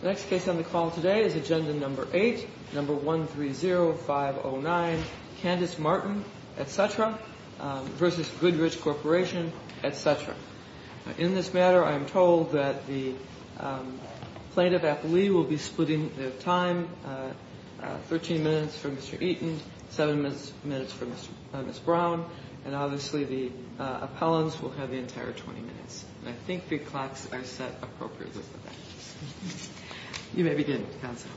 The next case on the call today is Agenda No. 8, No. 130509, Candace Martin, etc., v. Goodrich Corp., etc. In this matter, I am told that the plaintiff, Applee, will be splitting the time 13 minutes for Mr. Eaton, 7 minutes for Ms. Brown, and obviously the appellants will have the entire 20 minutes. And I think the clocks are set appropriately for that. You may begin, Counsel.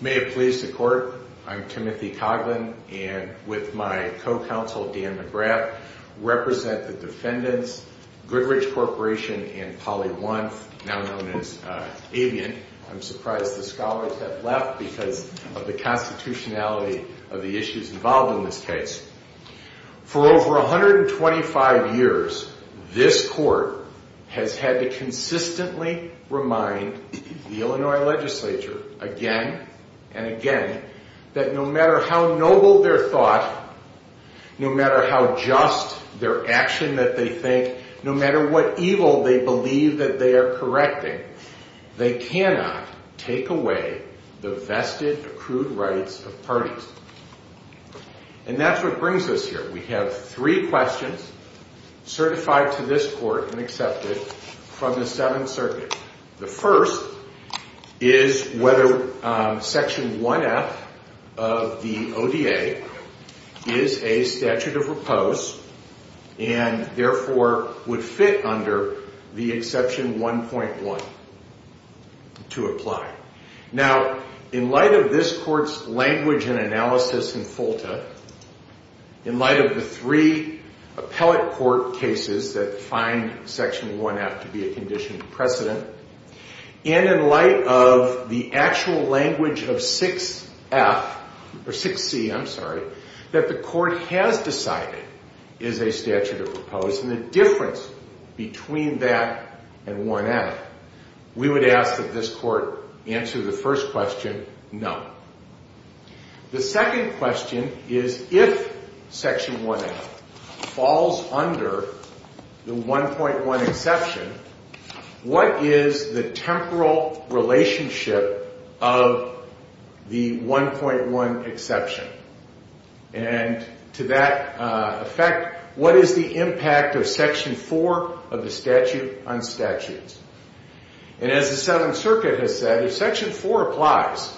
May it please the Court, I'm Timothy Coughlin, and with my co-counsel, Dan McGrath, represent the defendants, Goodrich Corp. and Polly Wunf, now known as Avian. I'm surprised the scholars have left because of the constitutionality of the issues involved in this case. For over 125 years, this Court has had to consistently remind the Illinois legislature again and again that no matter how noble their thought, no matter how just their action that they think, no matter what evil they believe that they are correcting, they cannot take away the vested accrued rights of parties. And that's what brings us here. We have three questions certified to this Court and accepted from the Seventh Circuit. The first is whether Section 1F of the ODA is a statute of repose and therefore would fit under the Exception 1.1 to apply. Now, in light of this Court's language and analysis in FOLTA, in light of the three appellate court cases that find Section 1F to be a condition of precedent, and in light of the actual language of 6C, that the Court has decided is a statute of repose and the difference between that and 1F, we would ask that this Court answer the first question, no. The second question is if Section 1F falls under the 1.1 exception, what is the temporal relationship of the 1.1 exception? And to that effect, what is the impact of Section 4 of the statute on statutes? And as the Seventh Circuit has said, if Section 4 applies,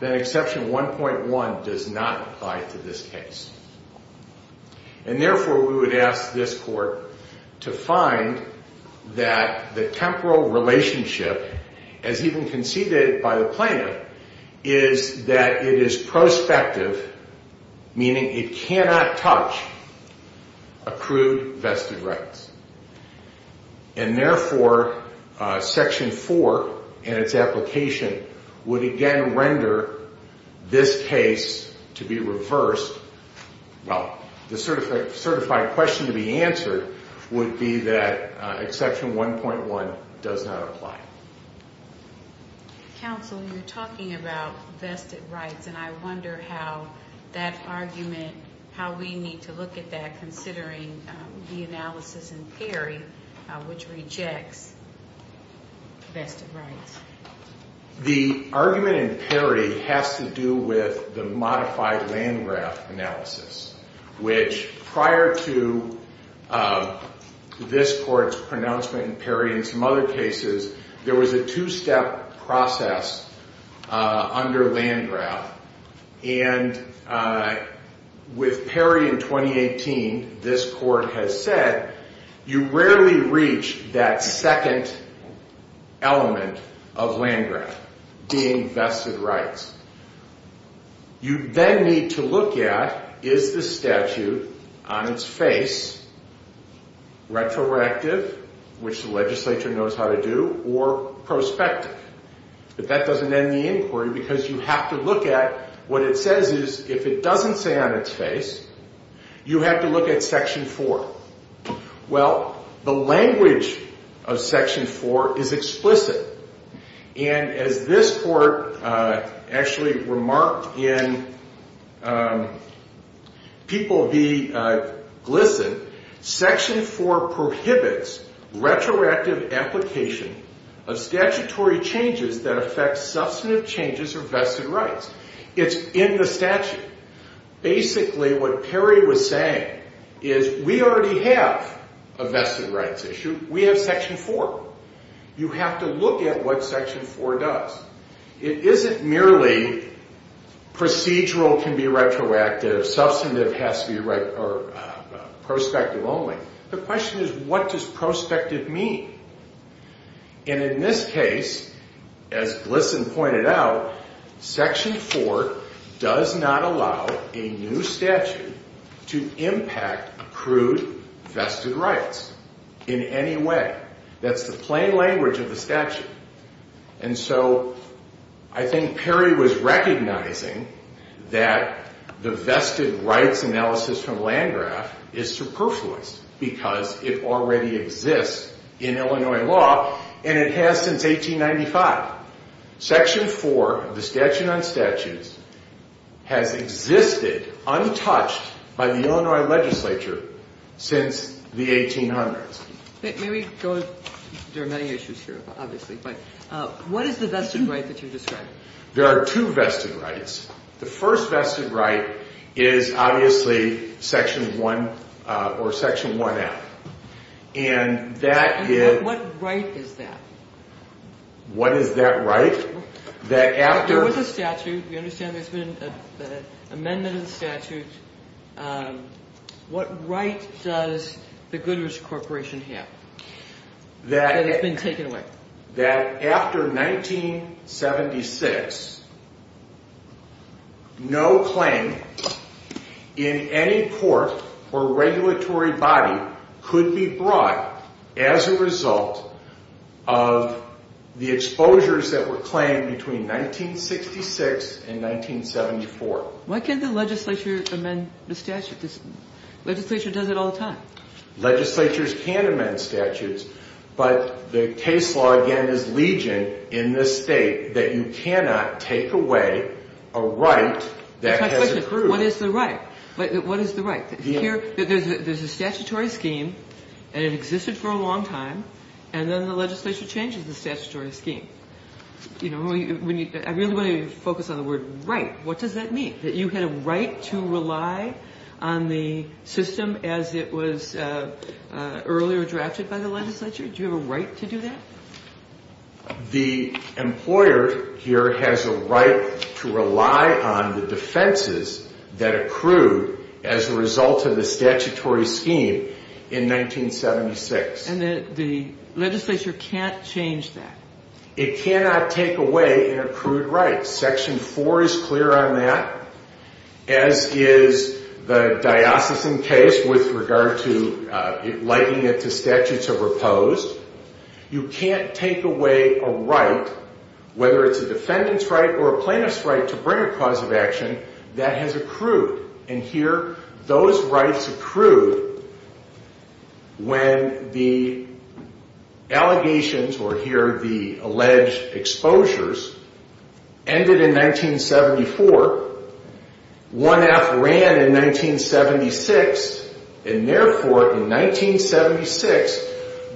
then Exception 1.1 does not apply to this case. And therefore, we would ask this Court to find that the temporal relationship, as even conceded by the plaintiff, is that it is prospective, meaning it cannot touch accrued vested rights. And therefore, Section 4 and its application would again render this case to be reversed. Well, the certified question to be answered would be that Exception 1.1 does not apply. Counsel, you're talking about vested rights, and I wonder how that argument, how we need to look at that considering the analysis in Perry, which rejects vested rights. The argument in Perry has to do with the modified Landgraf analysis, which prior to this Court's pronouncement in Perry and some other cases, there was a two-step process under Landgraf. And with Perry in 2018, this Court has said you rarely reach that second element of Landgraf, being vested rights. You then need to look at, is the statute on its face retroactive, which the legislature knows how to do, or prospective? But that doesn't end the inquiry because you have to look at, what it says is, if it doesn't say on its face, you have to look at Section 4. Well, the language of Section 4 is explicit. And as this Court actually remarked in People Be Glistened, Section 4 prohibits retroactive application of statutory changes that affect substantive changes of vested rights. It's in the statute. Basically, what Perry was saying is, we already have a vested rights issue. We have Section 4. You have to look at what Section 4 does. It isn't merely procedural can be retroactive, substantive has to be prospective only. The question is, what does prospective mean? And in this case, as Glisten pointed out, Section 4 does not allow a new statute to impact accrued vested rights in any way. That's the plain language of the statute. And so I think Perry was recognizing that the vested rights analysis from Landgraf is superfluous because it already exists in Illinois law, and it has since 1895. Section 4 of the Statute on Statutes has existed untouched by the Illinois legislature since the 1800s. May we go? There are many issues here, obviously. But what is the vested right that you described? There are two vested rights. The first vested right is obviously Section 1 or Section 1F. And that is – And what right is that? What is that right? There was a statute. We understand there's been an amendment of the statute. What right does the Goodrich Corporation have that has been taken away? after 1976, no claim in any court or regulatory body could be brought as a result of the exposures that were claimed between 1966 and 1974. Why can't the legislature amend the statute? Legislature does it all the time. Legislatures can amend statutes. But the case law, again, is legion in this state that you cannot take away a right that has accrued. What is the right? What is the right? There's a statutory scheme, and it existed for a long time, and then the legislature changes the statutory scheme. I really want to focus on the word right. What does that mean? That you had a right to rely on the system as it was earlier drafted by the legislature? Do you have a right to do that? The employer here has a right to rely on the defenses that accrued as a result of the statutory scheme in 1976. And the legislature can't change that? It cannot take away an accrued right. Section 4 is clear on that, as is the diocesan case with regard to likening it to statutes of repose. You can't take away a right, whether it's a defendant's right or a plaintiff's right, to bring a cause of action that has accrued. And here, those rights accrued when the allegations, or here the alleged exposures, ended in 1974. 1F ran in 1976, and therefore in 1976,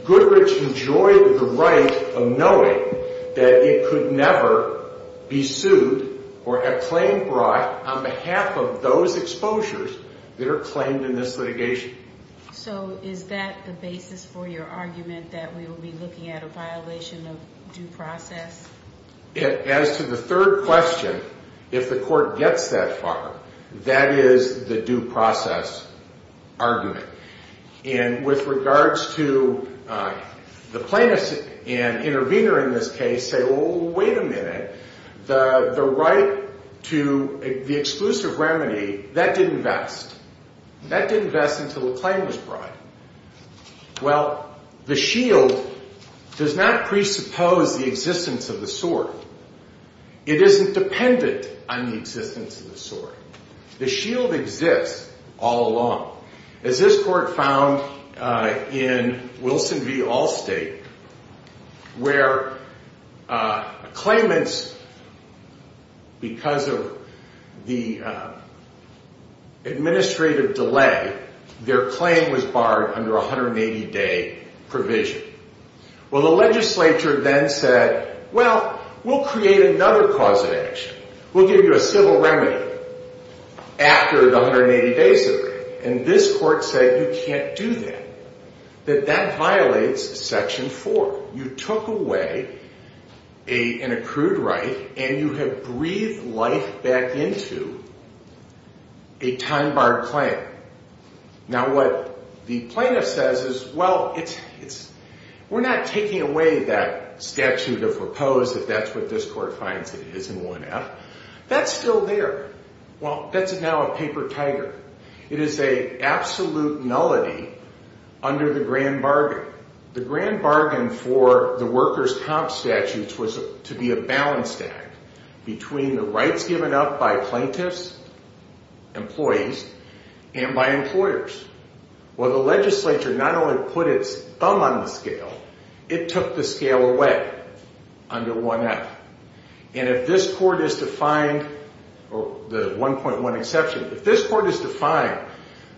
Goodrich enjoyed the right of knowing that it could never be sued or a claim brought on behalf of those exposures that are claimed in this litigation. So is that the basis for your argument that we will be looking at a violation of due process? As to the third question, if the court gets that far, that is the due process argument. And with regards to the plaintiff and intervener in this case say, well, wait a minute, the right to the exclusive remedy, that didn't vest. That didn't vest until a claim was brought. Well, the shield does not presuppose the existence of the sword. It isn't dependent on the existence of the sword. The shield exists all along. As this court found in Wilson v. Allstate, where claimants, because of the administrative delay, their claim was barred under a 180-day provision. Well, the legislature then said, well, we'll create another cause of action. We'll give you a civil remedy after the 180 days of it. And this court said you can't do that, that that violates Section 4. You took away an accrued right, and you have breathed life back into a time-barred claim. Now, what the plaintiff says is, well, we're not taking away that statute of repose, if that's what this court finds it is in 1F. That's still there. Well, that's now a paper tiger. It is an absolute nullity under the grand bargain. The grand bargain for the workers' comp statutes was to be a balanced act between the rights given up by plaintiffs, employees, and by employers. Well, the legislature not only put its thumb on the scale, it took the scale away under 1F. And if this court is to find the 1.1 exception, if this court is to find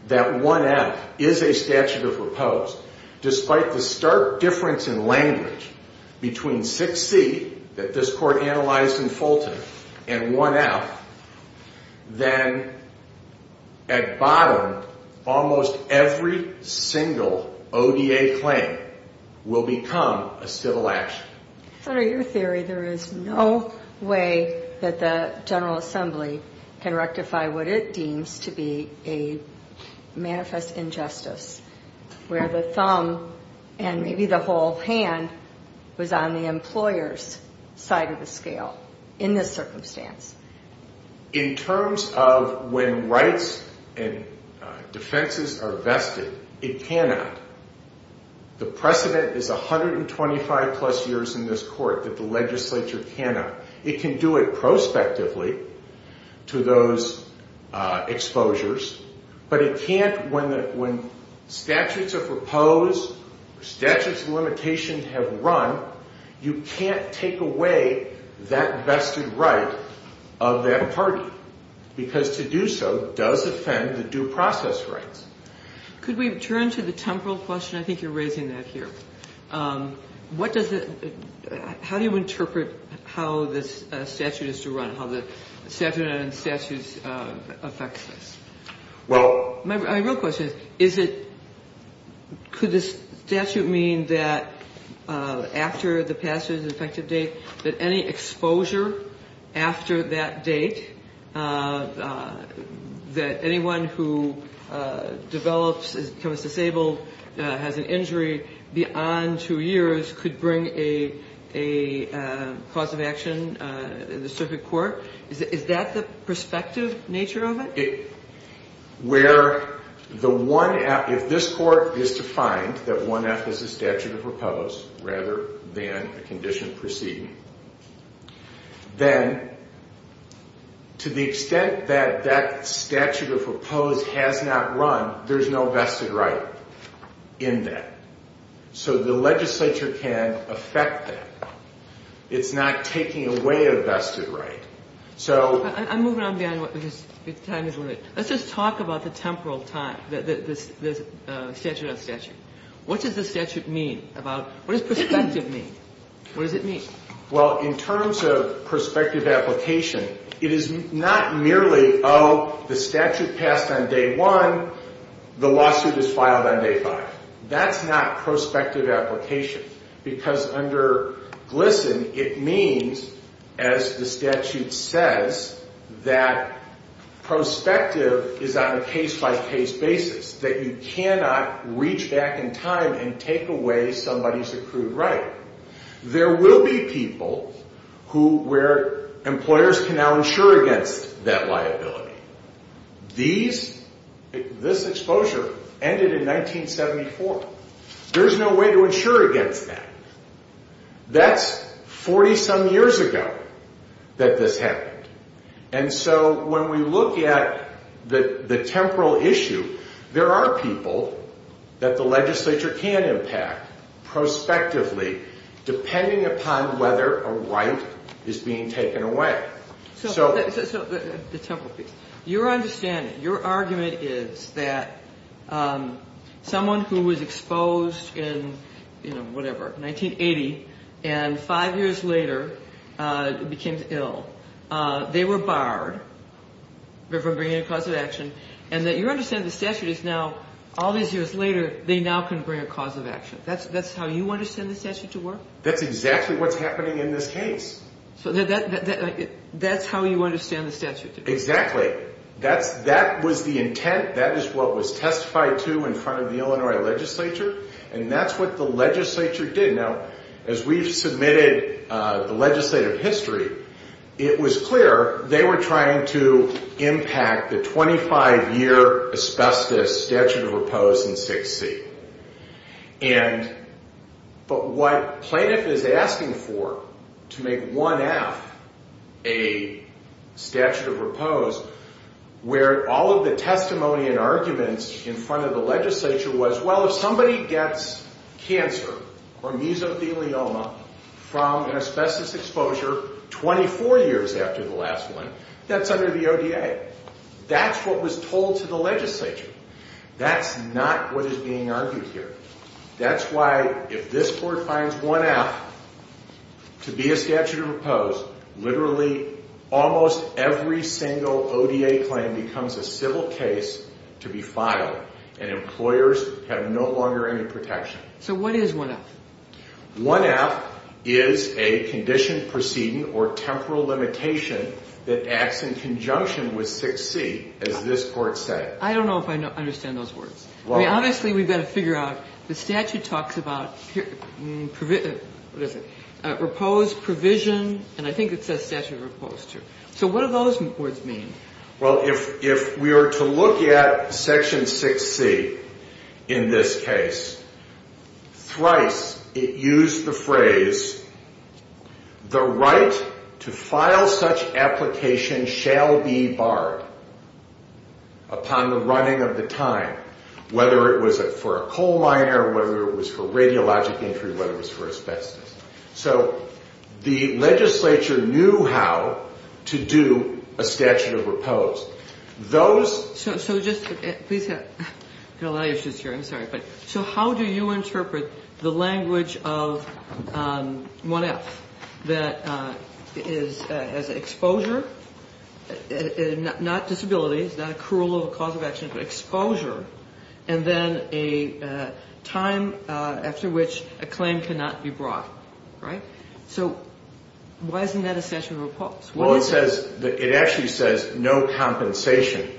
that 1F is a statute of repose, despite the stark difference in language between 6C that this court analyzed in Fulton and 1F, then at bottom, almost every single ODA claim will become a civil action. Senator, your theory, there is no way that the General Assembly can rectify what it deems to be a manifest injustice, where the thumb and maybe the whole hand was on the employer's side of the scale in this circumstance. In terms of when rights and defenses are vested, it cannot. The precedent is 125-plus years in this court that the legislature cannot. It can do it prospectively to those exposures, but it can't when statutes of repose, statutes of limitation have run. You can't take away that vested right of that party because to do so does offend the due process rights. Could we turn to the temporal question? I think you're raising that here. What does it – how do you interpret how this statute is to run, how the statute on statutes affects this? Well – My real question is, is it – could the statute mean that after the passage, the effective date, that any exposure after that date, that anyone who develops – becomes disabled, has an injury beyond two years, could bring a cause of action in the circuit court? Is that the prospective nature of it? Where the 1F – if this court is to find that 1F is a statute of repose rather than a condition proceeding, then to the extent that that statute of repose has not run, there's no vested right in that. So the legislature can affect that. It's not taking away a vested right. So – I'm moving on beyond what – because time is limited. Let's just talk about the temporal time, the statute on statute. What does the statute mean about – what does prospective mean? What does it mean? Well, in terms of prospective application, it is not merely, oh, the statute passed on day one, the lawsuit is filed on day five. That's not prospective application. Because under GLSEN, it means, as the statute says, that prospective is on a case-by-case basis, that you cannot reach back in time and take away somebody's accrued right. There will be people who – where employers can now insure against that liability. These – this exposure ended in 1974. There's no way to insure against that. That's 40-some years ago that this happened. And so when we look at the temporal issue, there are people that the legislature can impact prospectively, depending upon whether a right is being taken away. So the temporal piece. Your understanding, your argument is that someone who was exposed in, you know, whatever, 1980, and five years later became ill, they were barred from bringing a cause of action, and that your understanding of the statute is now, all these years later, they now can bring a cause of action. That's how you understand the statute to work? That's exactly what's happening in this case. So that's how you understand the statute to work? Exactly. That's – that was the intent. That is what was testified to in front of the Illinois legislature, and that's what the legislature did. Now, as we've submitted the legislative history, it was clear they were trying to impact the 25-year asbestos statute of repose in 6C. And – but what plaintiff is asking for to make 1F a statute of repose, where all of the testimony and arguments in front of the legislature was, well, if somebody gets cancer or mesothelioma from an asbestos exposure 24 years after the last one, that's under the ODA. That's what was told to the legislature. That's not what is being argued here. That's why, if this court finds 1F to be a statute of repose, literally almost every single ODA claim becomes a civil case to be filed, and employers have no longer any protection. So what is 1F? 1F is a condition, proceeding, or temporal limitation that acts in conjunction with 6C, as this court said. I don't know if I understand those words. I mean, obviously we've got to figure out the statute talks about – what is it? Repose, provision, and I think it says statute of repose, too. So what do those words mean? Well, if we were to look at Section 6C in this case, thrice it used the phrase, the right to file such application shall be barred upon the running of the time, whether it was for a coal miner, whether it was for radiologic injury, whether it was for asbestos. So the legislature knew how to do a statute of repose. So just – please have – I've got a lot of issues here. I'm sorry. So how do you interpret the language of 1F that is exposure, not disability, it's not a cruel cause of action, but exposure, and then a time after which a claim cannot be brought, right? So why isn't that a statute of repose? Well, it says – it actually says no compensation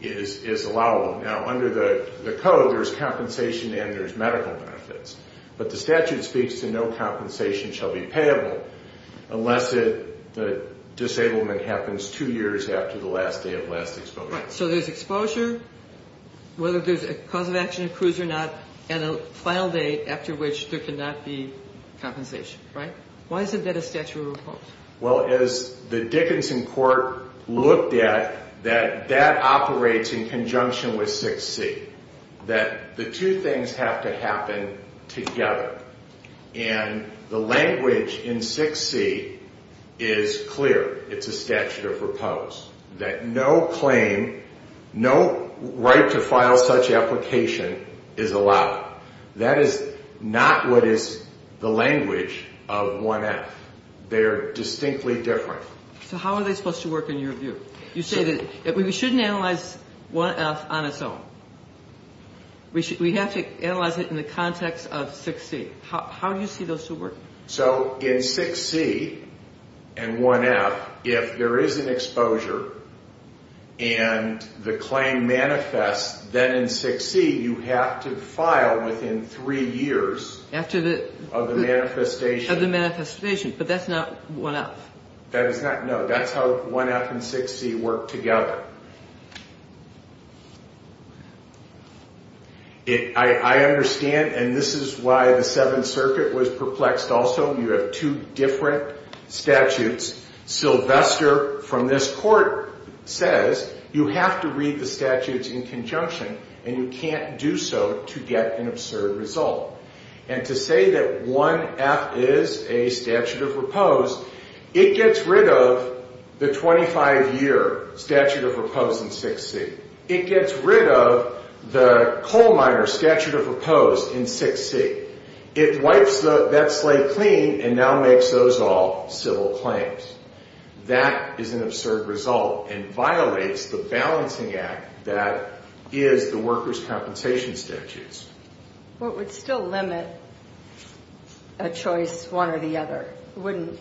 is allowable. Now, under the code there's compensation and there's medical benefits, but the statute speaks to no compensation shall be payable unless the disablement happens two years after the last day of last exposure. Right. So there's exposure, whether there's a cause of action accrues or not, and a final date after which there cannot be compensation, right? Why isn't that a statute of repose? Well, as the Dickinson court looked at, that that operates in conjunction with 6C, that the two things have to happen together. And the language in 6C is clear. It's a statute of repose, that no claim, no right to file such application is allowed. That is not what is the language of 1F. They are distinctly different. So how are they supposed to work in your view? You say that we shouldn't analyze 1F on its own. We have to analyze it in the context of 6C. How do you see those two working? So in 6C and 1F, if there is an exposure and the claim manifests, then in 6C you have to file within three years of the manifestation. But that's not 1F. No, that's how 1F and 6C work together. I understand, and this is why the Seventh Circuit was perplexed also. You have two different statutes. Sylvester from this court says you have to read the statutes in conjunction, and you can't do so to get an absurd result. And to say that 1F is a statute of repose, it gets rid of the 25-year statute of repose in 6C. It gets rid of the coal miner statute of repose in 6C. It wipes that slate clean and now makes those all civil claims. That is an absurd result and violates the balancing act that is the workers' compensation statutes. Well, it would still limit a choice one or the other. It wouldn't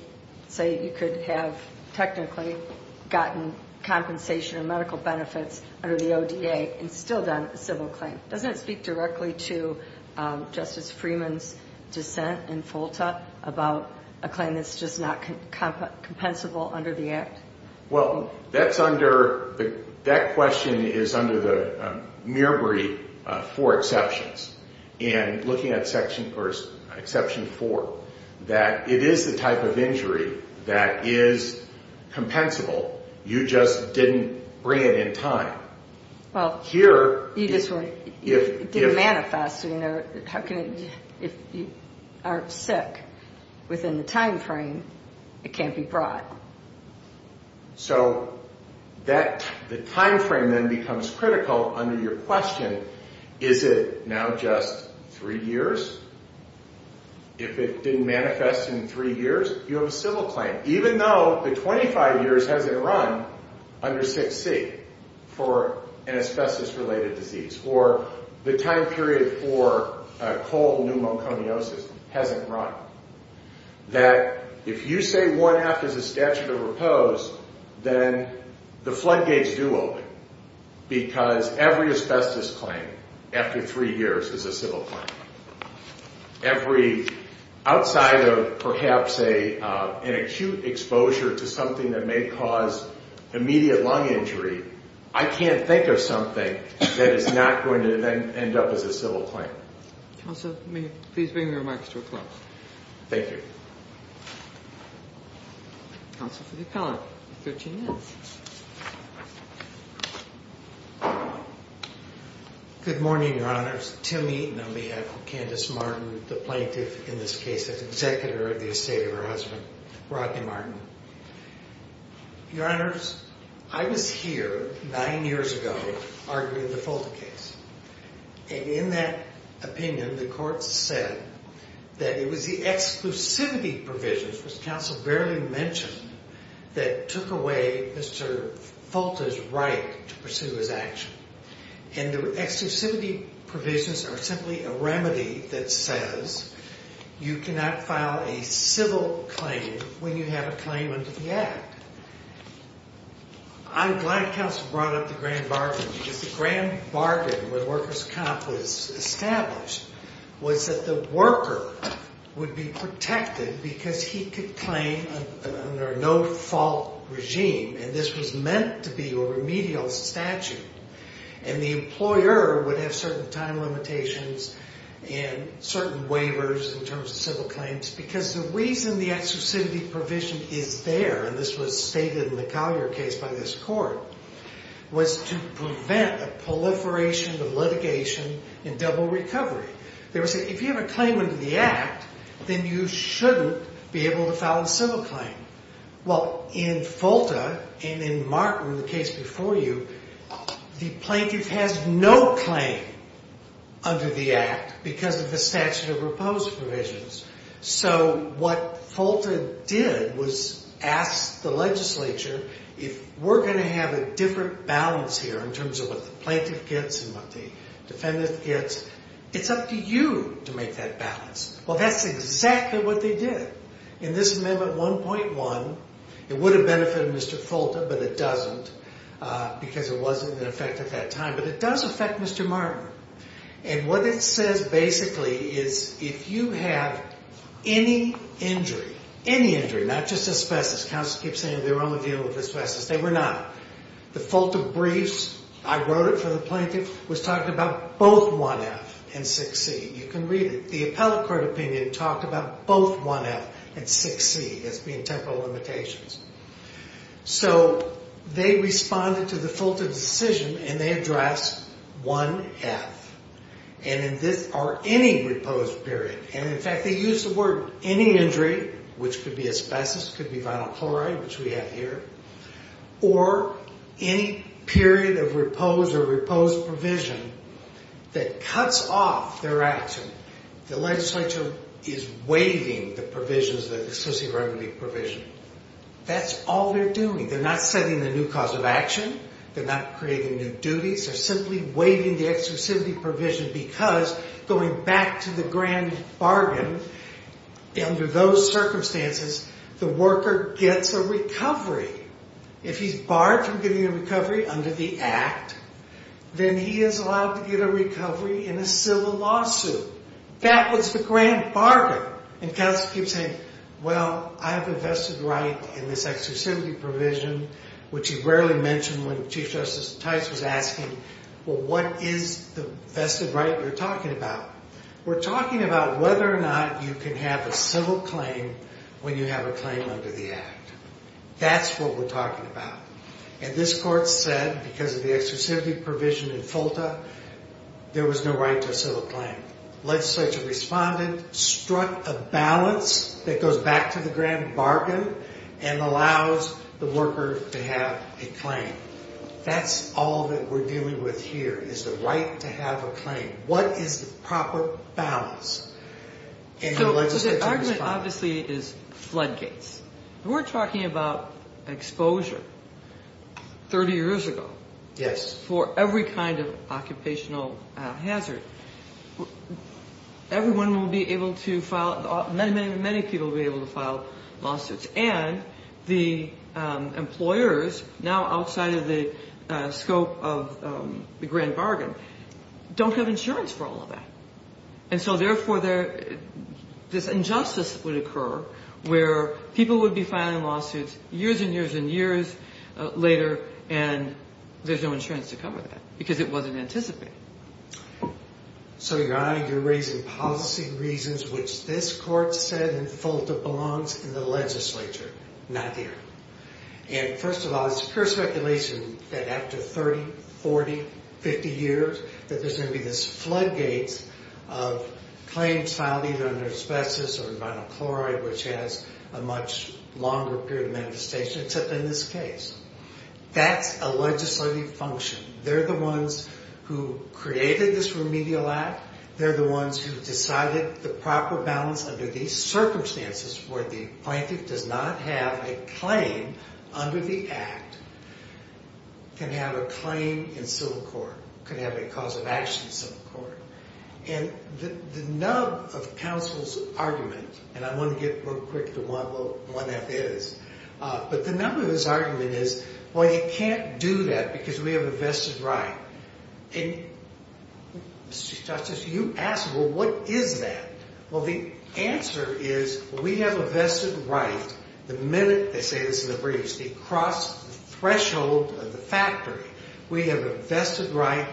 say you could have technically gotten compensation or medical benefits under the ODA and still done a civil claim. Doesn't it speak directly to Justice Freeman's dissent in FOLTA about a claim that's just not compensable under the act? Well, that question is under the Mirabri four exceptions. And looking at section 4, that it is the type of injury that is compensable. You just didn't bring it in time. Well, you just didn't manifest. If you aren't sick within the time frame, it can't be brought. So the time frame then becomes critical under your question. Is it now just three years? If it didn't manifest in three years, you have a civil claim. Even though the 25 years hasn't run under 6C for an asbestos-related disease or the time period for cold pneumoconiosis hasn't run, that if you say 1F is a statute of repose, then the floodgates do open because every asbestos claim after three years is a civil claim. Outside of perhaps an acute exposure to something that may cause immediate lung injury, I can't think of something that is not going to then end up as a civil claim. Counsel, may you please bring your remarks to a close? Thank you. Counsel for the appellant, 13 minutes. Good morning, Your Honors. Tim Eaton on behalf of Candace Martin, the plaintiff in this case, the executor of the estate of her husband, Rodney Martin. Your Honors, I was here nine years ago arguing the Fulta case. In that opinion, the court said that it was the exclusivity provisions, which counsel barely mentioned, that took away Mr. Fulta's right to pursue his action. And the exclusivity provisions are simply a remedy that says you cannot file a civil claim when you have a claim under the Act. I'm glad counsel brought up the grand bargain because the grand bargain when workers' comp was established was that the worker would be protected because he could claim under a no-fault regime, and this was meant to be a remedial statute. And the employer would have certain time limitations and certain waivers in terms of civil claims because the reason the exclusivity provision is there, and this was stated in the Collier case by this court, was to prevent a proliferation of litigation and double recovery. They were saying, if you have a claim under the Act, then you shouldn't be able to file a civil claim. Well, in Fulta and in Martin, the case before you, the plaintiff has no claim under the Act because of the statute of repose provisions. So what Fulta did was ask the legislature, if we're going to have a different balance here in terms of what the plaintiff gets and what the defendant gets, it's up to you to make that balance. Well, that's exactly what they did. In this Amendment 1.1, it would have benefited Mr. Fulta, but it doesn't, because it wasn't in effect at that time, but it does affect Mr. Martin. And what it says, basically, is if you have any injury, any injury, not just asbestos, counsel keeps saying they were on the deal with asbestos, they were not. The Fulta briefs, I wrote it for the plaintiff, was talking about both 1F and 6C. You can read it. The appellate court opinion talked about both 1F and 6C as being temporal limitations. So they responded to the Fulta decision and they addressed 1F or any repose period. And, in fact, they used the word any injury, which could be asbestos, could be vinyl chloride, which we have here, or any period of repose or repose provision that cuts off their action. The legislature is waiving the provisions, the exclusivity provision. That's all they're doing. They're not setting the new cause of action. They're not creating new duties. They're simply waiving the exclusivity provision because going back to the grand bargain, under those circumstances, the worker gets a recovery. If he's barred from getting a recovery under the Act, then he is allowed to get a recovery in a civil lawsuit. That was the grand bargain. And counsel keeps saying, well, I have a vested right in this exclusivity provision, which he rarely mentioned when Chief Justice Tice was asking, well, what is the vested right you're talking about? We're talking about whether or not you can have a civil claim when you have a claim under the Act. That's what we're talking about. And this Court said, because of the exclusivity provision in FOLTA, there was no right to a civil claim. Legislature responded, struck a balance that goes back to the grand bargain and allows the worker to have a claim. That's all that we're dealing with here, is the right to have a claim. What is the proper balance? So the argument, obviously, is floodgates. We're talking about exposure 30 years ago. For every kind of occupational hazard. Everyone will be able to file lawsuits. Many people will be able to file lawsuits. And the employers, now outside of the scope of the grand bargain, don't have insurance for all of that. And so, therefore, this injustice would occur where people would be filing lawsuits years and years and years later and there's no insurance to cover that because it wasn't anticipated. So, Your Honor, you're raising policy reasons which this Court said in FOLTA belongs in the legislature, not here. And, first of all, it's pure speculation that after 30, 40, 50 years, that there's going to be this floodgates of claims filed either under asbestos or vinyl chloride, which has a much longer period of manifestation, except in this case. That's a legislative function. They're the ones who created this remedial act. They're the ones who decided the proper balance under these circumstances where the plaintiff does not have a claim under the act, can have a claim in civil court, can have a cause of action in civil court. And the nub of counsel's argument, and I want to get real quick to what that is, but the nub of his argument is, well, you can't do that because we have a vested right. And, Mr. Justice, you ask, well, what is that? Well, the answer is we have a vested right. The minute they say this in the briefs, the threshold of the factory, we have a vested right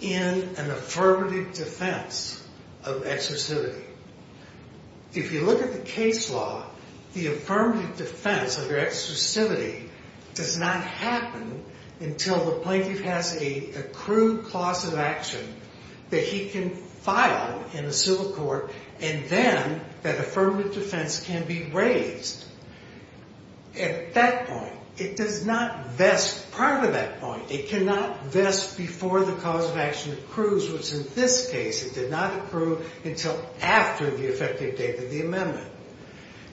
in an affirmative defense of exclusivity. If you look at the case law, the affirmative defense under exclusivity does not happen until the plaintiff has an accrued cause of action that he can file in a civil court, and then that affirmative defense can be raised. At that point, it does not vest prior to that point. It cannot vest before the cause of action accrues, which in this case it did not accrue until after the effective date of the amendment.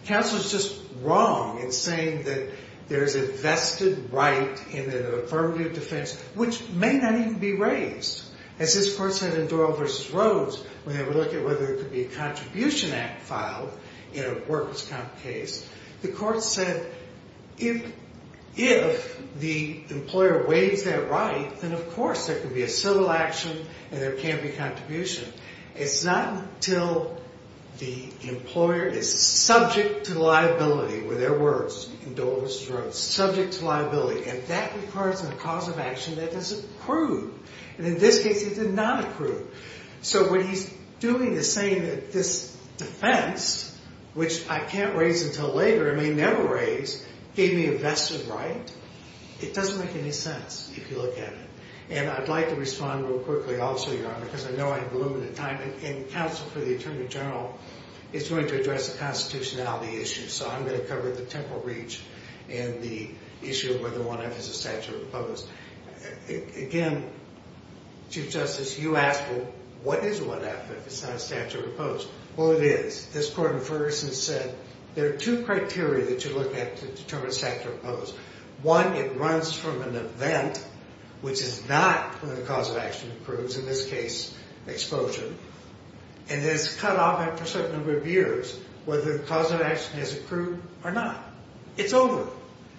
Counsel is just wrong in saying that there is a vested right in an affirmative defense which may not even be raised. As this court said in Doyle v. Rhodes, when they were looking at whether there could be a contribution act filed in a workers' comp case, the court said if the employer waives that right, then of course there could be a civil action and there can be a contribution. It's not until the employer is subject to liability. Were there words in Doyle v. Rhodes, subject to liability, and that requires a cause of action that is accrued, and in this case it did not accrue. So what he's doing is saying that this defense, which I can't raise until later and may never raise, gave me a vested right. It doesn't make any sense if you look at it. And I'd like to respond real quickly. I'll show you how, because I know I have a little bit of time, and counsel for the attorney general is going to address the constitutionality issue, so I'm going to cover the temporal reach and the issue of whether one has a statute of limits. Again, Chief Justice, you asked, well, what is 1F if it's not a statute of limits? Well, it is. This court in Ferguson said there are two criteria that you look at to determine a statute of limits. One, it runs from an event, which is not when the cause of action accrues, in this case exposure, and it's cut off after a certain number of years whether the cause of action has accrued or not. It's over.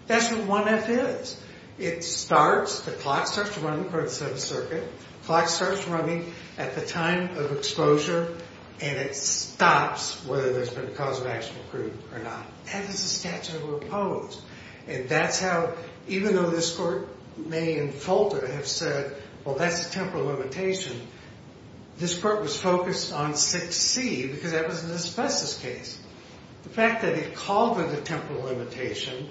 That's what 1F is. It starts, the clock starts running, according to the Seventh Circuit, the clock starts running at the time of exposure, and it stops whether there's been a cause of action accrued or not. That is a statute of opposed. And that's how, even though this court may in Folter have said, well, that's a temporal limitation, this court was focused on 6C because that was an asbestos case. The fact that it called it a temporal limitation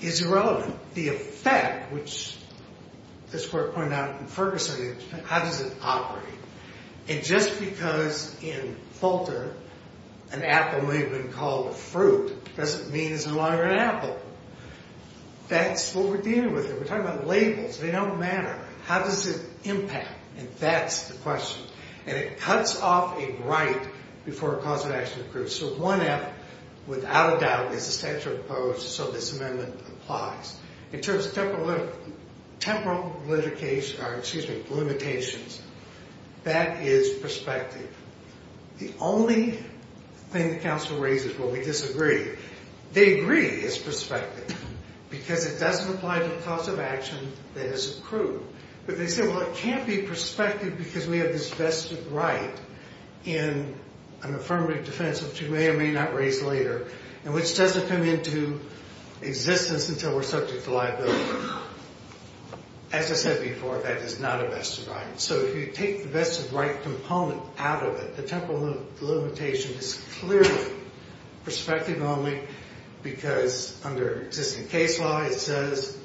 is irrelevant. The effect, which this court pointed out in Ferguson, how does it operate? And just because in Folter an apple may have been called a fruit doesn't mean it's no longer an apple. That's what we're dealing with here. We're talking about labels. They don't matter. How does it impact? And that's the question. And it cuts off a right before a cause of action accrues. So 1F, without a doubt, is a statute of opposed, so this amendment applies. In terms of temporal limitations, that is perspective. The only thing the counsel raises, well, we disagree. They agree it's perspective because it doesn't apply to a cause of action that is accrued. But they say, well, it can't be perspective because we have this vested right in an affirmative defense, which we may or may not raise later, and which doesn't come into existence until we're subject to liability. As I said before, that is not a vested right. So if you take the vested right component out of it, the temporal limitation is clearly perspective only because under existing case law it says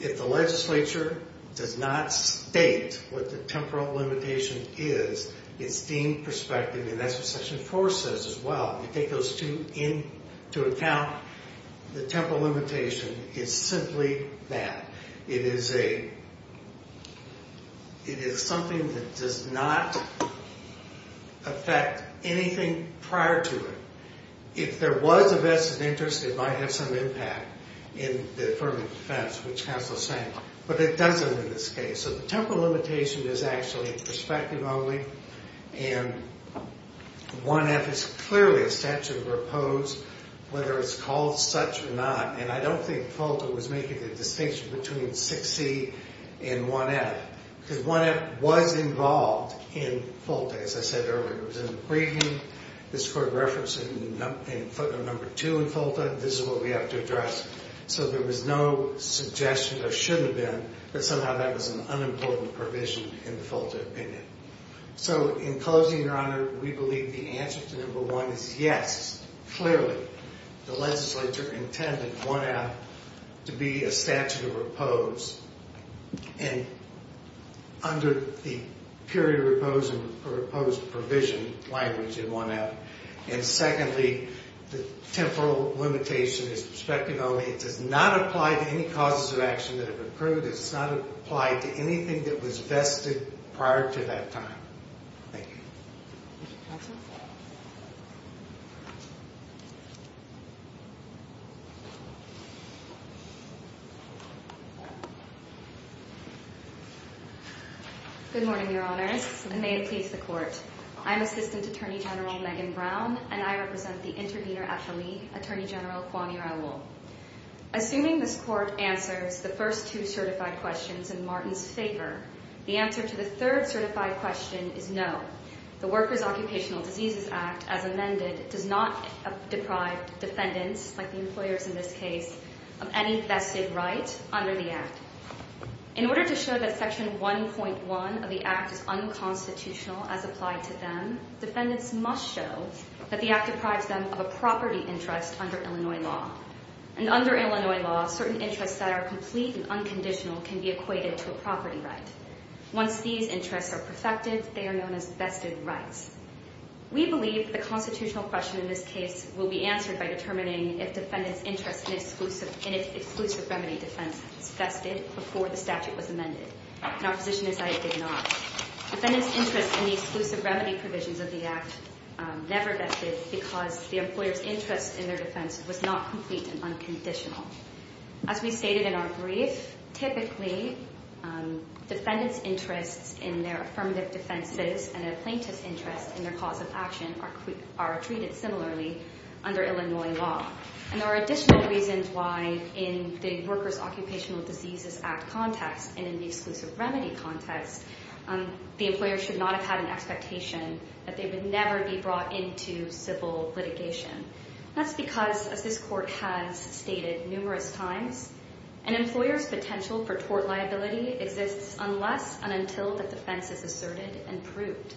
if the legislature does not state what the temporal limitation is, it's deemed perspective, and that's what Section 4 says as well. If you take those two into account, the temporal limitation is simply that. It is something that does not affect anything prior to it. If there was a vested interest, it might have some impact. In the affirmative defense, which counsel is saying. But it doesn't in this case. So the temporal limitation is actually perspective only, and 1F is clearly a statute of repose whether it's called such or not. And I don't think FOLTA was making a distinction between 6C and 1F because 1F was involved in FOLTA, as I said earlier. It was in the briefing. This court referenced it in footnote number two in FOLTA. This is what we have to address. So there was no suggestion there shouldn't have been, but somehow that was an unimportant provision in the FOLTA opinion. So in closing, Your Honor, we believe the answer to number one is yes, clearly. The legislature intended 1F to be a statute of repose under the period of repose and proposed provision language in 1F. And secondly, the temporal limitation is perspective only. It does not apply to any causes of action that have occurred. It does not apply to anything that was vested prior to that time. Thank you. Good morning, Your Honors, and may it please the Court. I'm Assistant Attorney General Megan Brown, and I represent the intervener at the League, Attorney General Kwame Raoul. Assuming this Court answers the first two certified questions in Martin's favor, the answer to the third certified question is no. The Workers' Occupational Diseases Act, as amended, does not deprive defendants, like the employers in this case, of any vested right under the Act. In order to show that Section 1.1 of the Act is unconstitutional as applied to them, defendants must show that the Act deprives them of a property interest under Illinois law. And under Illinois law, certain interests that are complete and unconditional can be equated to a property right. Once these interests are perfected, they are known as vested rights. We believe the constitutional question in this case will be answered by determining if defendants' interest in exclusive remedy defense was vested before the statute was amended. And our position is that it did not. Defendants' interest in the exclusive remedy provisions of the Act never vested because the employer's interest in their defense was not complete and unconditional. As we stated in our brief, typically defendants' interests in their affirmative defenses and a plaintiff's interest in their cause of action are treated similarly under Illinois law. And there are additional reasons why in the Workers' Occupational Diseases Act context and in the exclusive remedy context, the employer should not have had an expectation that they would never be brought into civil litigation. That's because, as this Court has stated numerous times, an employer's potential for tort liability exists unless and until the defense is asserted and proved.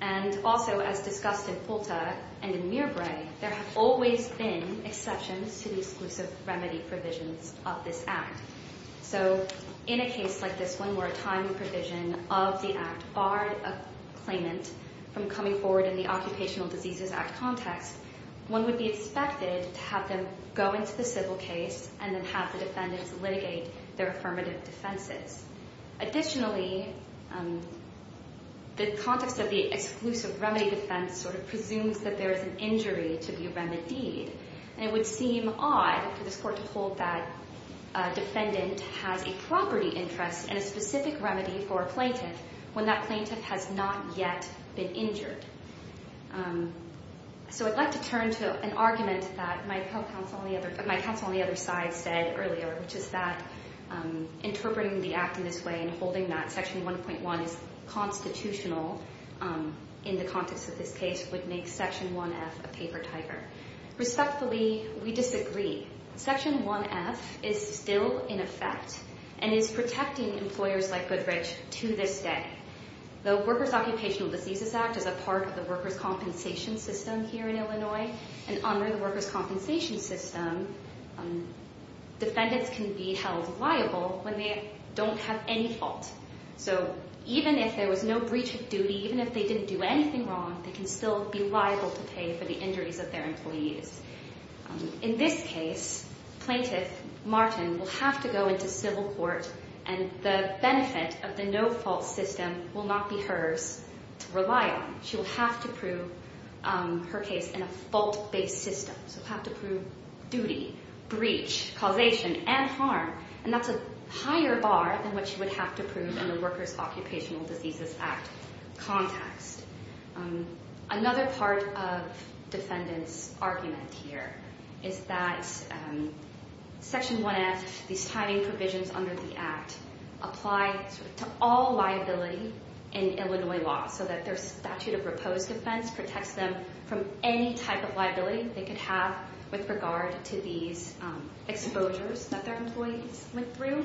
And also, as discussed in Fulta and in Mirbrae, there have always been exceptions to the exclusive remedy provisions of this Act. So in a case like this one where a timing provision of the Act barred a claimant from coming forward in the Occupational Diseases Act context, one would be expected to have them go into the civil case and then have the defendants litigate their affirmative defenses. Additionally, the context of the exclusive remedy defense sort of presumes that there is an injury to be remedied. And it would seem odd for this Court to hold that a defendant has a property interest and a specific remedy for a plaintiff when that plaintiff has not yet been injured. So I'd like to turn to an argument that my counsel on the other side said earlier, which is that interpreting the Act in this way and holding that Section 1.1 is constitutional in the context of this case would make Section 1F a paper tiger. Respectfully, we disagree. Section 1F is still in effect and is protecting employers like Goodrich to this day. The Workers' Occupational Diseases Act is a part of the workers' compensation system here in Illinois, and under the workers' compensation system, defendants can be held liable when they don't have any fault. So even if there was no breach of duty, even if they didn't do anything wrong, they can still be liable to pay for the injuries of their employees. In this case, plaintiff Martin will have to go into civil court, and the benefit of the no-fault system will not be hers to rely on. She will have to prove her case in a fault-based system, so have to prove duty, breach, causation, and harm, and that's a higher bar than what she would have to prove in the Workers' Occupational Diseases Act context. Another part of defendants' argument here is that Section 1F, these timing provisions under the Act, apply to all liability in Illinois law, so that their statute of repose defense protects them from any type of liability they could have with regard to these exposures that their employees went through,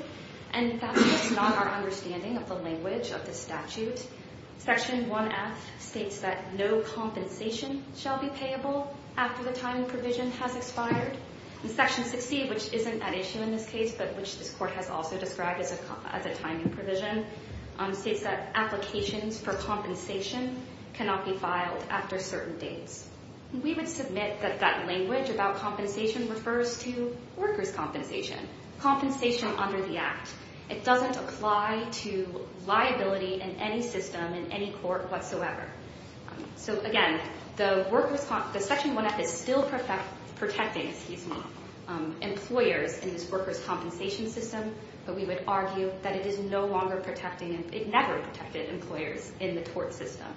and that's just not our understanding of the language of the statute. Section 1F states that no compensation shall be payable after the timing provision has expired, and Section 60, which isn't at issue in this case, but which this court has also described as a timing provision, states that applications for compensation cannot be filed after certain dates. We would submit that that language about compensation refers to workers' compensation, compensation under the Act. It doesn't apply to liability in any system in any court whatsoever. So again, the Section 1F is still protecting employers in this workers' compensation system, but we would argue that it is no longer protecting, it never protected employers in the tort system,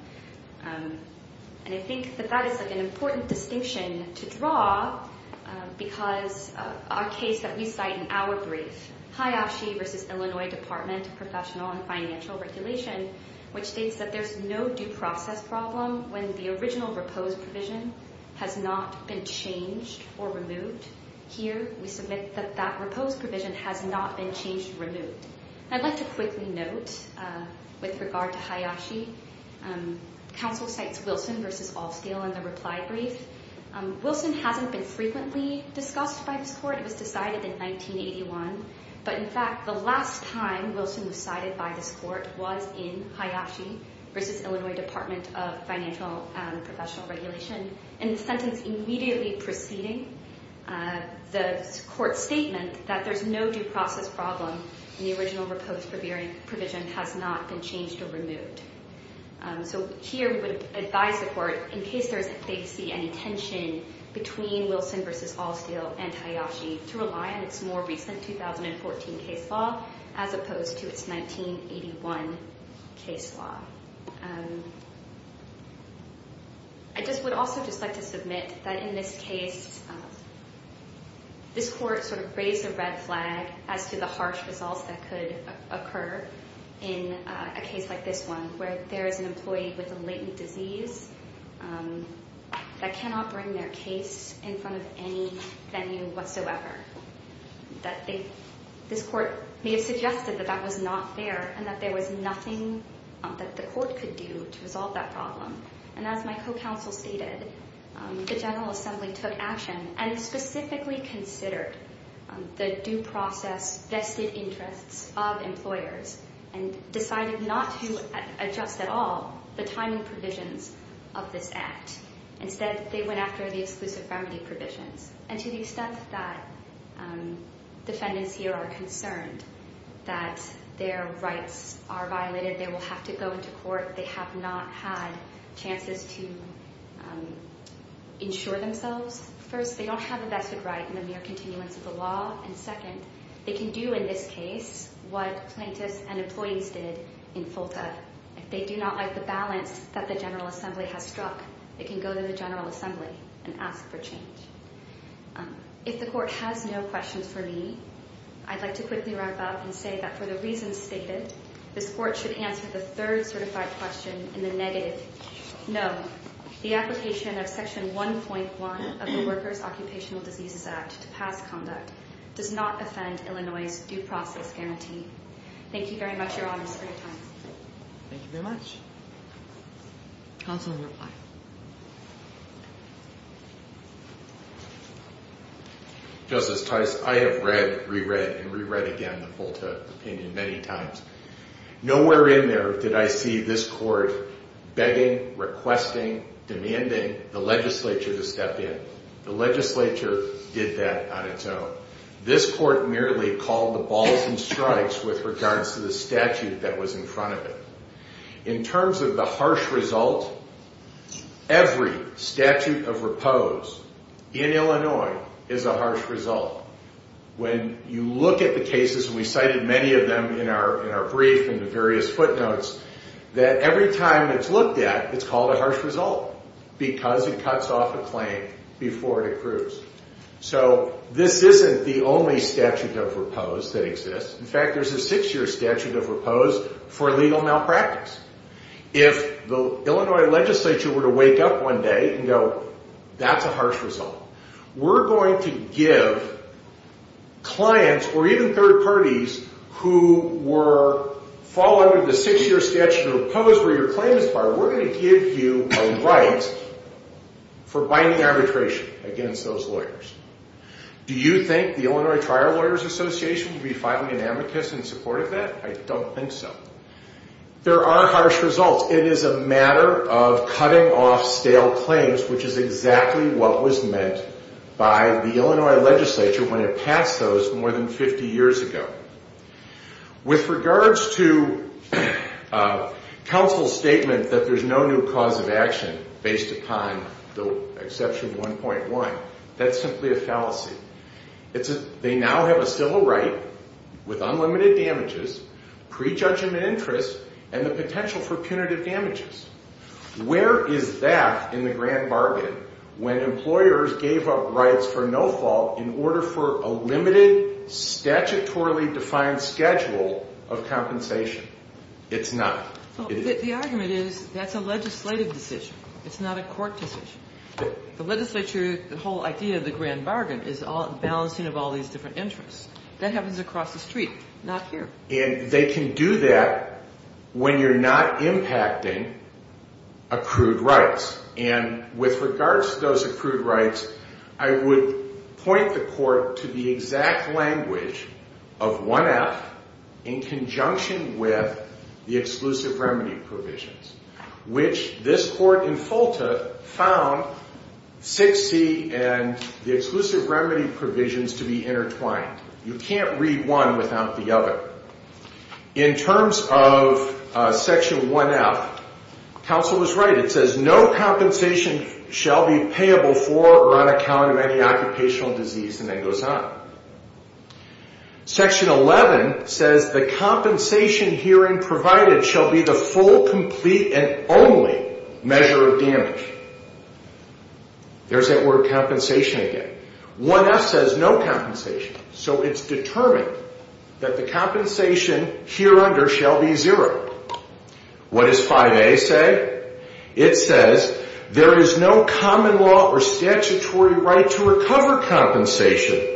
and I think that that is an important distinction to draw because our case that we cite in our brief, Hayashi v. Illinois Department of Professional and Financial Regulation, which states that there's no due process problem when the original repose provision has not been changed or removed. Here, we submit that that repose provision has not been changed or removed. I'd like to quickly note, with regard to Hayashi, counsel cites Wilson v. Allscale in the reply brief. Wilson hasn't been frequently discussed by this court. It was decided in 1981, but in fact, the last time Wilson was cited by this court was in Hayashi v. Illinois Department of Financial and Professional Regulation, and the sentence immediately preceding the court's statement that there's no due process problem when the original repose provision has not been changed or removed. So here, we would advise the court, in case they see any tension between Wilson v. Allscale and Hayashi, to rely on its more recent 2014 case law as opposed to its 1981 case law. I just would also just like to submit that in this case, this court sort of raised a red flag as to the harsh results that could occur in a case like this one, where there is an employee with a latent disease that cannot bring their case in front of any venue whatsoever. This court may have suggested that that was not fair, and that there was nothing that the court could do to resolve that problem. And as my co-counsel stated, the General Assembly took action and specifically considered the due process vested interests of employers and decided not to adjust at all the timing provisions of this act. Instead, they went after the exclusive family provisions. And to the extent that defendants here are concerned that their rights are violated, they will have to go into court. They have not had chances to insure themselves. First, they don't have a vested right in the mere continuance of the law. And second, they can do in this case what plaintiffs and employees did in FOLTA. If they do not like the balance that the General Assembly has struck, they can go to the General Assembly and ask for change. If the court has no questions for me, I'd like to quickly wrap up and say that for the reasons stated, this court should answer the third certified question in the negative. No, the application of Section 1.1 of the Workers' Occupational Diseases Act to pass conduct does not offend Illinois' due process guarantee. Thank you very much, Your Honors, for your time. Thank you very much. Counsel's reply. Justice Tice, I have read, reread, and reread again the FOLTA opinion many times. Nowhere in there did I see this court begging, requesting, demanding the legislature to step in. The legislature did that on its own. This court merely called the balls and strikes with regards to the statute that was in front of it. In terms of the harsh result, every statute of repose in Illinois is a harsh result. When you look at the cases, and we cited many of them in our brief and the various footnotes, that every time it's looked at, it's called a harsh result because it cuts off a claim before it accrues. So this isn't the only statute of repose that exists. In fact, there's a six-year statute of repose for legal malpractice. If the Illinois legislature were to wake up one day and go, that's a harsh result, we're going to give clients or even third parties who fall under the six-year statute of repose where your claim is filed, we're going to give you a right for binding arbitration against those lawyers. Do you think the Illinois Trial Lawyers Association would be filing an amicus in support of that? I don't think so. There are harsh results. It is a matter of cutting off stale claims, which is exactly what was meant by the Illinois legislature when it passed those more than 50 years ago. With regards to counsel's statement that there's no new cause of action based upon the exception 1.1, that's simply a fallacy. They now have a civil right with unlimited damages, prejudgment interest, and the potential for punitive damages. Where is that in the grand bargain when employers gave up rights for no fault in order for a limited statutorily defined schedule of compensation? It's not. The argument is that's a legislative decision. It's not a court decision. The legislature, the whole idea of the grand bargain is balancing of all these different interests. That happens across the street, not here. And they can do that when you're not impacting accrued rights. And with regards to those accrued rights, I would point the court to the exact language of 1.F in conjunction with the exclusive remedy provisions, which this court in Fulta found 6C and the exclusive remedy provisions to be intertwined. You can't read one without the other. In terms of Section 1.F, counsel was right. It says no compensation shall be payable for or on account of any occupational disease, and then goes on. Section 11 says the compensation herein provided shall be the full, complete, and only measure of damage. There's that word compensation again. 1.F says no compensation. So it's determined that the compensation hereunder shall be zero. What does 5A say? It says there is no common law or statutory right to recover compensation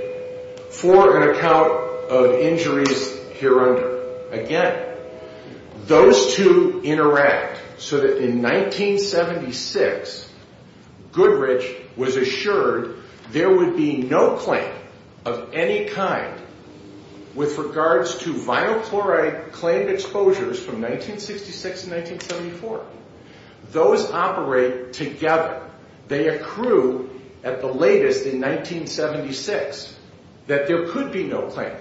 for an account of injuries hereunder. Again, those two interact so that in 1976, Goodrich was assured there would be no claim of any kind with regards to vinyl chloride claimed exposures from 1966 to 1974. Those operate together. They accrue at the latest in 1976 that there could be no claim.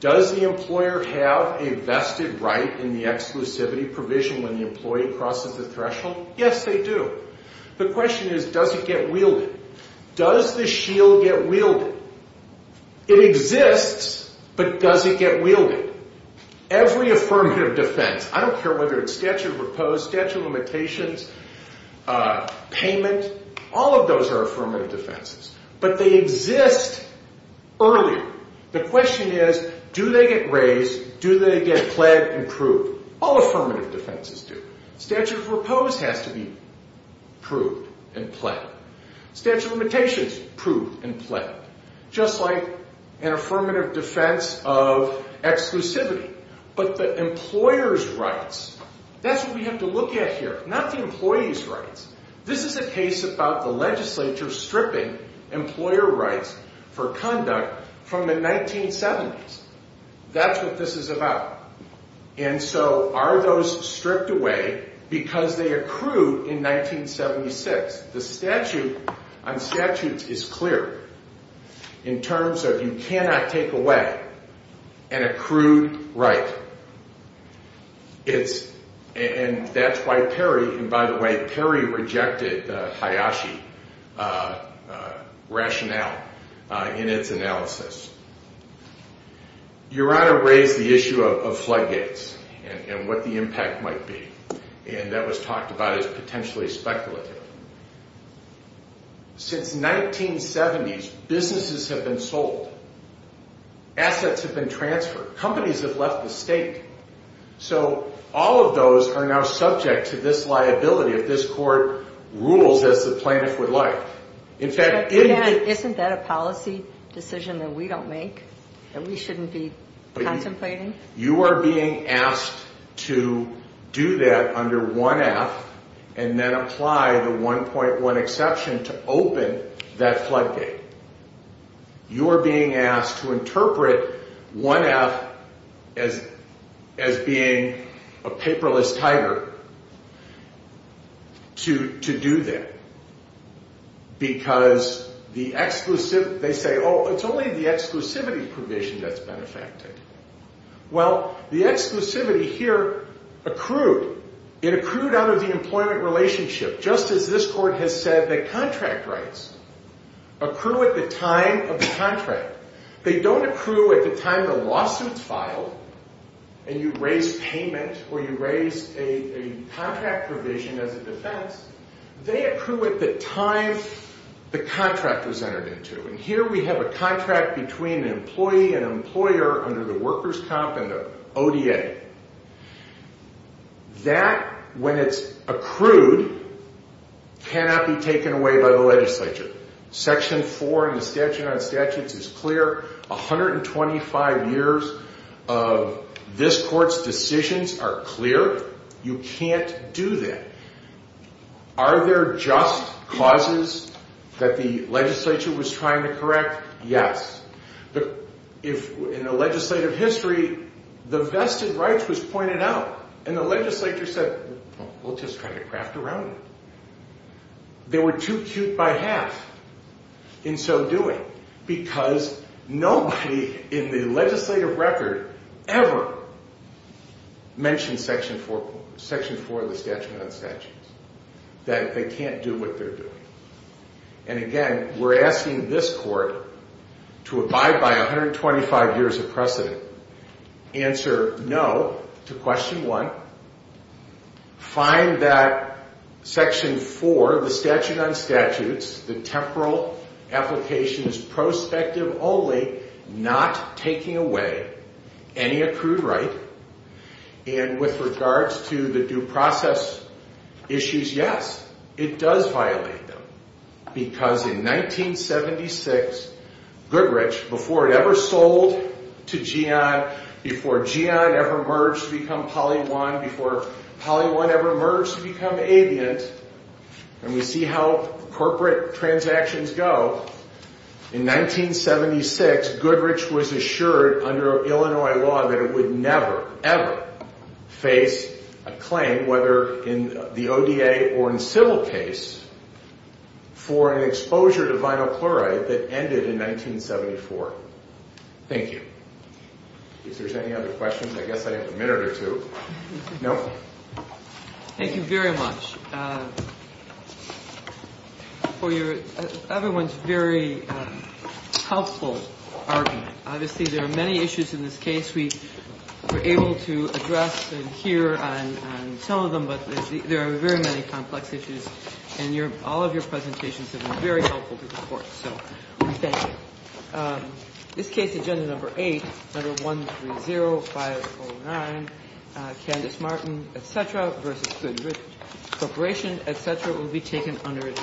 Does the employer have a vested right in the exclusivity provision when the employee crosses the threshold? Yes, they do. The question is, does it get wielded? Does the shield get wielded? It exists, but does it get wielded? Every affirmative defense, I don't care whether it's statute of repose, statute of limitations, payment, all of those are affirmative defenses, but they exist earlier. The question is, do they get raised? Do they get pled and proved? All affirmative defenses do. Statute of repose has to be proved and pled. Statute of limitations proved and pled, just like an affirmative defense of exclusivity. But the employer's rights, that's what we have to look at here, not the employee's rights. This is a case about the legislature stripping employer rights for conduct from the 1970s. That's what this is about. And so are those stripped away because they accrued in 1976? The statute on statutes is clear in terms of you cannot take away an accrued right. And that's why Perry, and by the way, Perry rejected Hayashi rationale in its analysis. Your Honor raised the issue of floodgates and what the impact might be, and that was talked about as potentially speculative. Since 1970s, businesses have been sold. Assets have been transferred. Companies have left the state. So all of those are now subject to this liability if this court rules as the plaintiff would like. Isn't that a policy decision that we don't make, that we shouldn't be contemplating? You are being asked to do that under 1F and then apply the 1.1 exception to open that floodgate. You are being asked to interpret 1F as being a paperless tiger to do that because they say, oh, it's only the exclusivity provision that's benefacted. Well, the exclusivity here accrued. It accrued out of the employment relationship, just as this court has said that contract rights accrue at the time of the contract. They don't accrue at the time the lawsuit is filed and you raise payment or you raise a contract provision as a defense. They accrue at the time the contract was entered into, and here we have a contract between an employee and an employer under the workers' comp and the ODA. That, when it's accrued, cannot be taken away by the legislature. Section 4 in the statute on statutes is clear. 125 years of this court's decisions are clear. You can't do that. Are there just causes that the legislature was trying to correct? Yes. In the legislative history, the vested rights was pointed out, and the legislature said, well, we'll just try to craft around it. They were too cute by half in so doing because nobody in the legislative record ever mentioned Section 4 of the statute on statutes, that they can't do what they're doing. And again, we're asking this court to abide by 125 years of precedent, answer no to question 1, find that Section 4 of the statute on statutes, the temporal application is prospective only, not taking away any accrued right, and with regards to the due process issues, yes, it does violate them. Because in 1976, Goodrich, before it ever sold to GEON, before GEON ever merged to become Poly 1, before Poly 1 ever merged to become Aviant, and we see how corporate transactions go, in 1976, Goodrich was assured under Illinois law that it would never, ever face a claim, whether in the ODA or in civil case, for an exposure to vinyl chloride that ended in 1974. Thank you. If there's any other questions, I guess I have a minute or two. No? Thank you very much for everyone's very helpful argument. Obviously, there are many issues in this case we were able to address and hear on some of them, but there are very many complex issues, and all of your presentations have been very helpful to the court. So, thank you. This case, Agenda Number 8, Number 130509, Candace Martin, et cetera, versus Goodrich Corporation, et cetera, will be taken under advisory.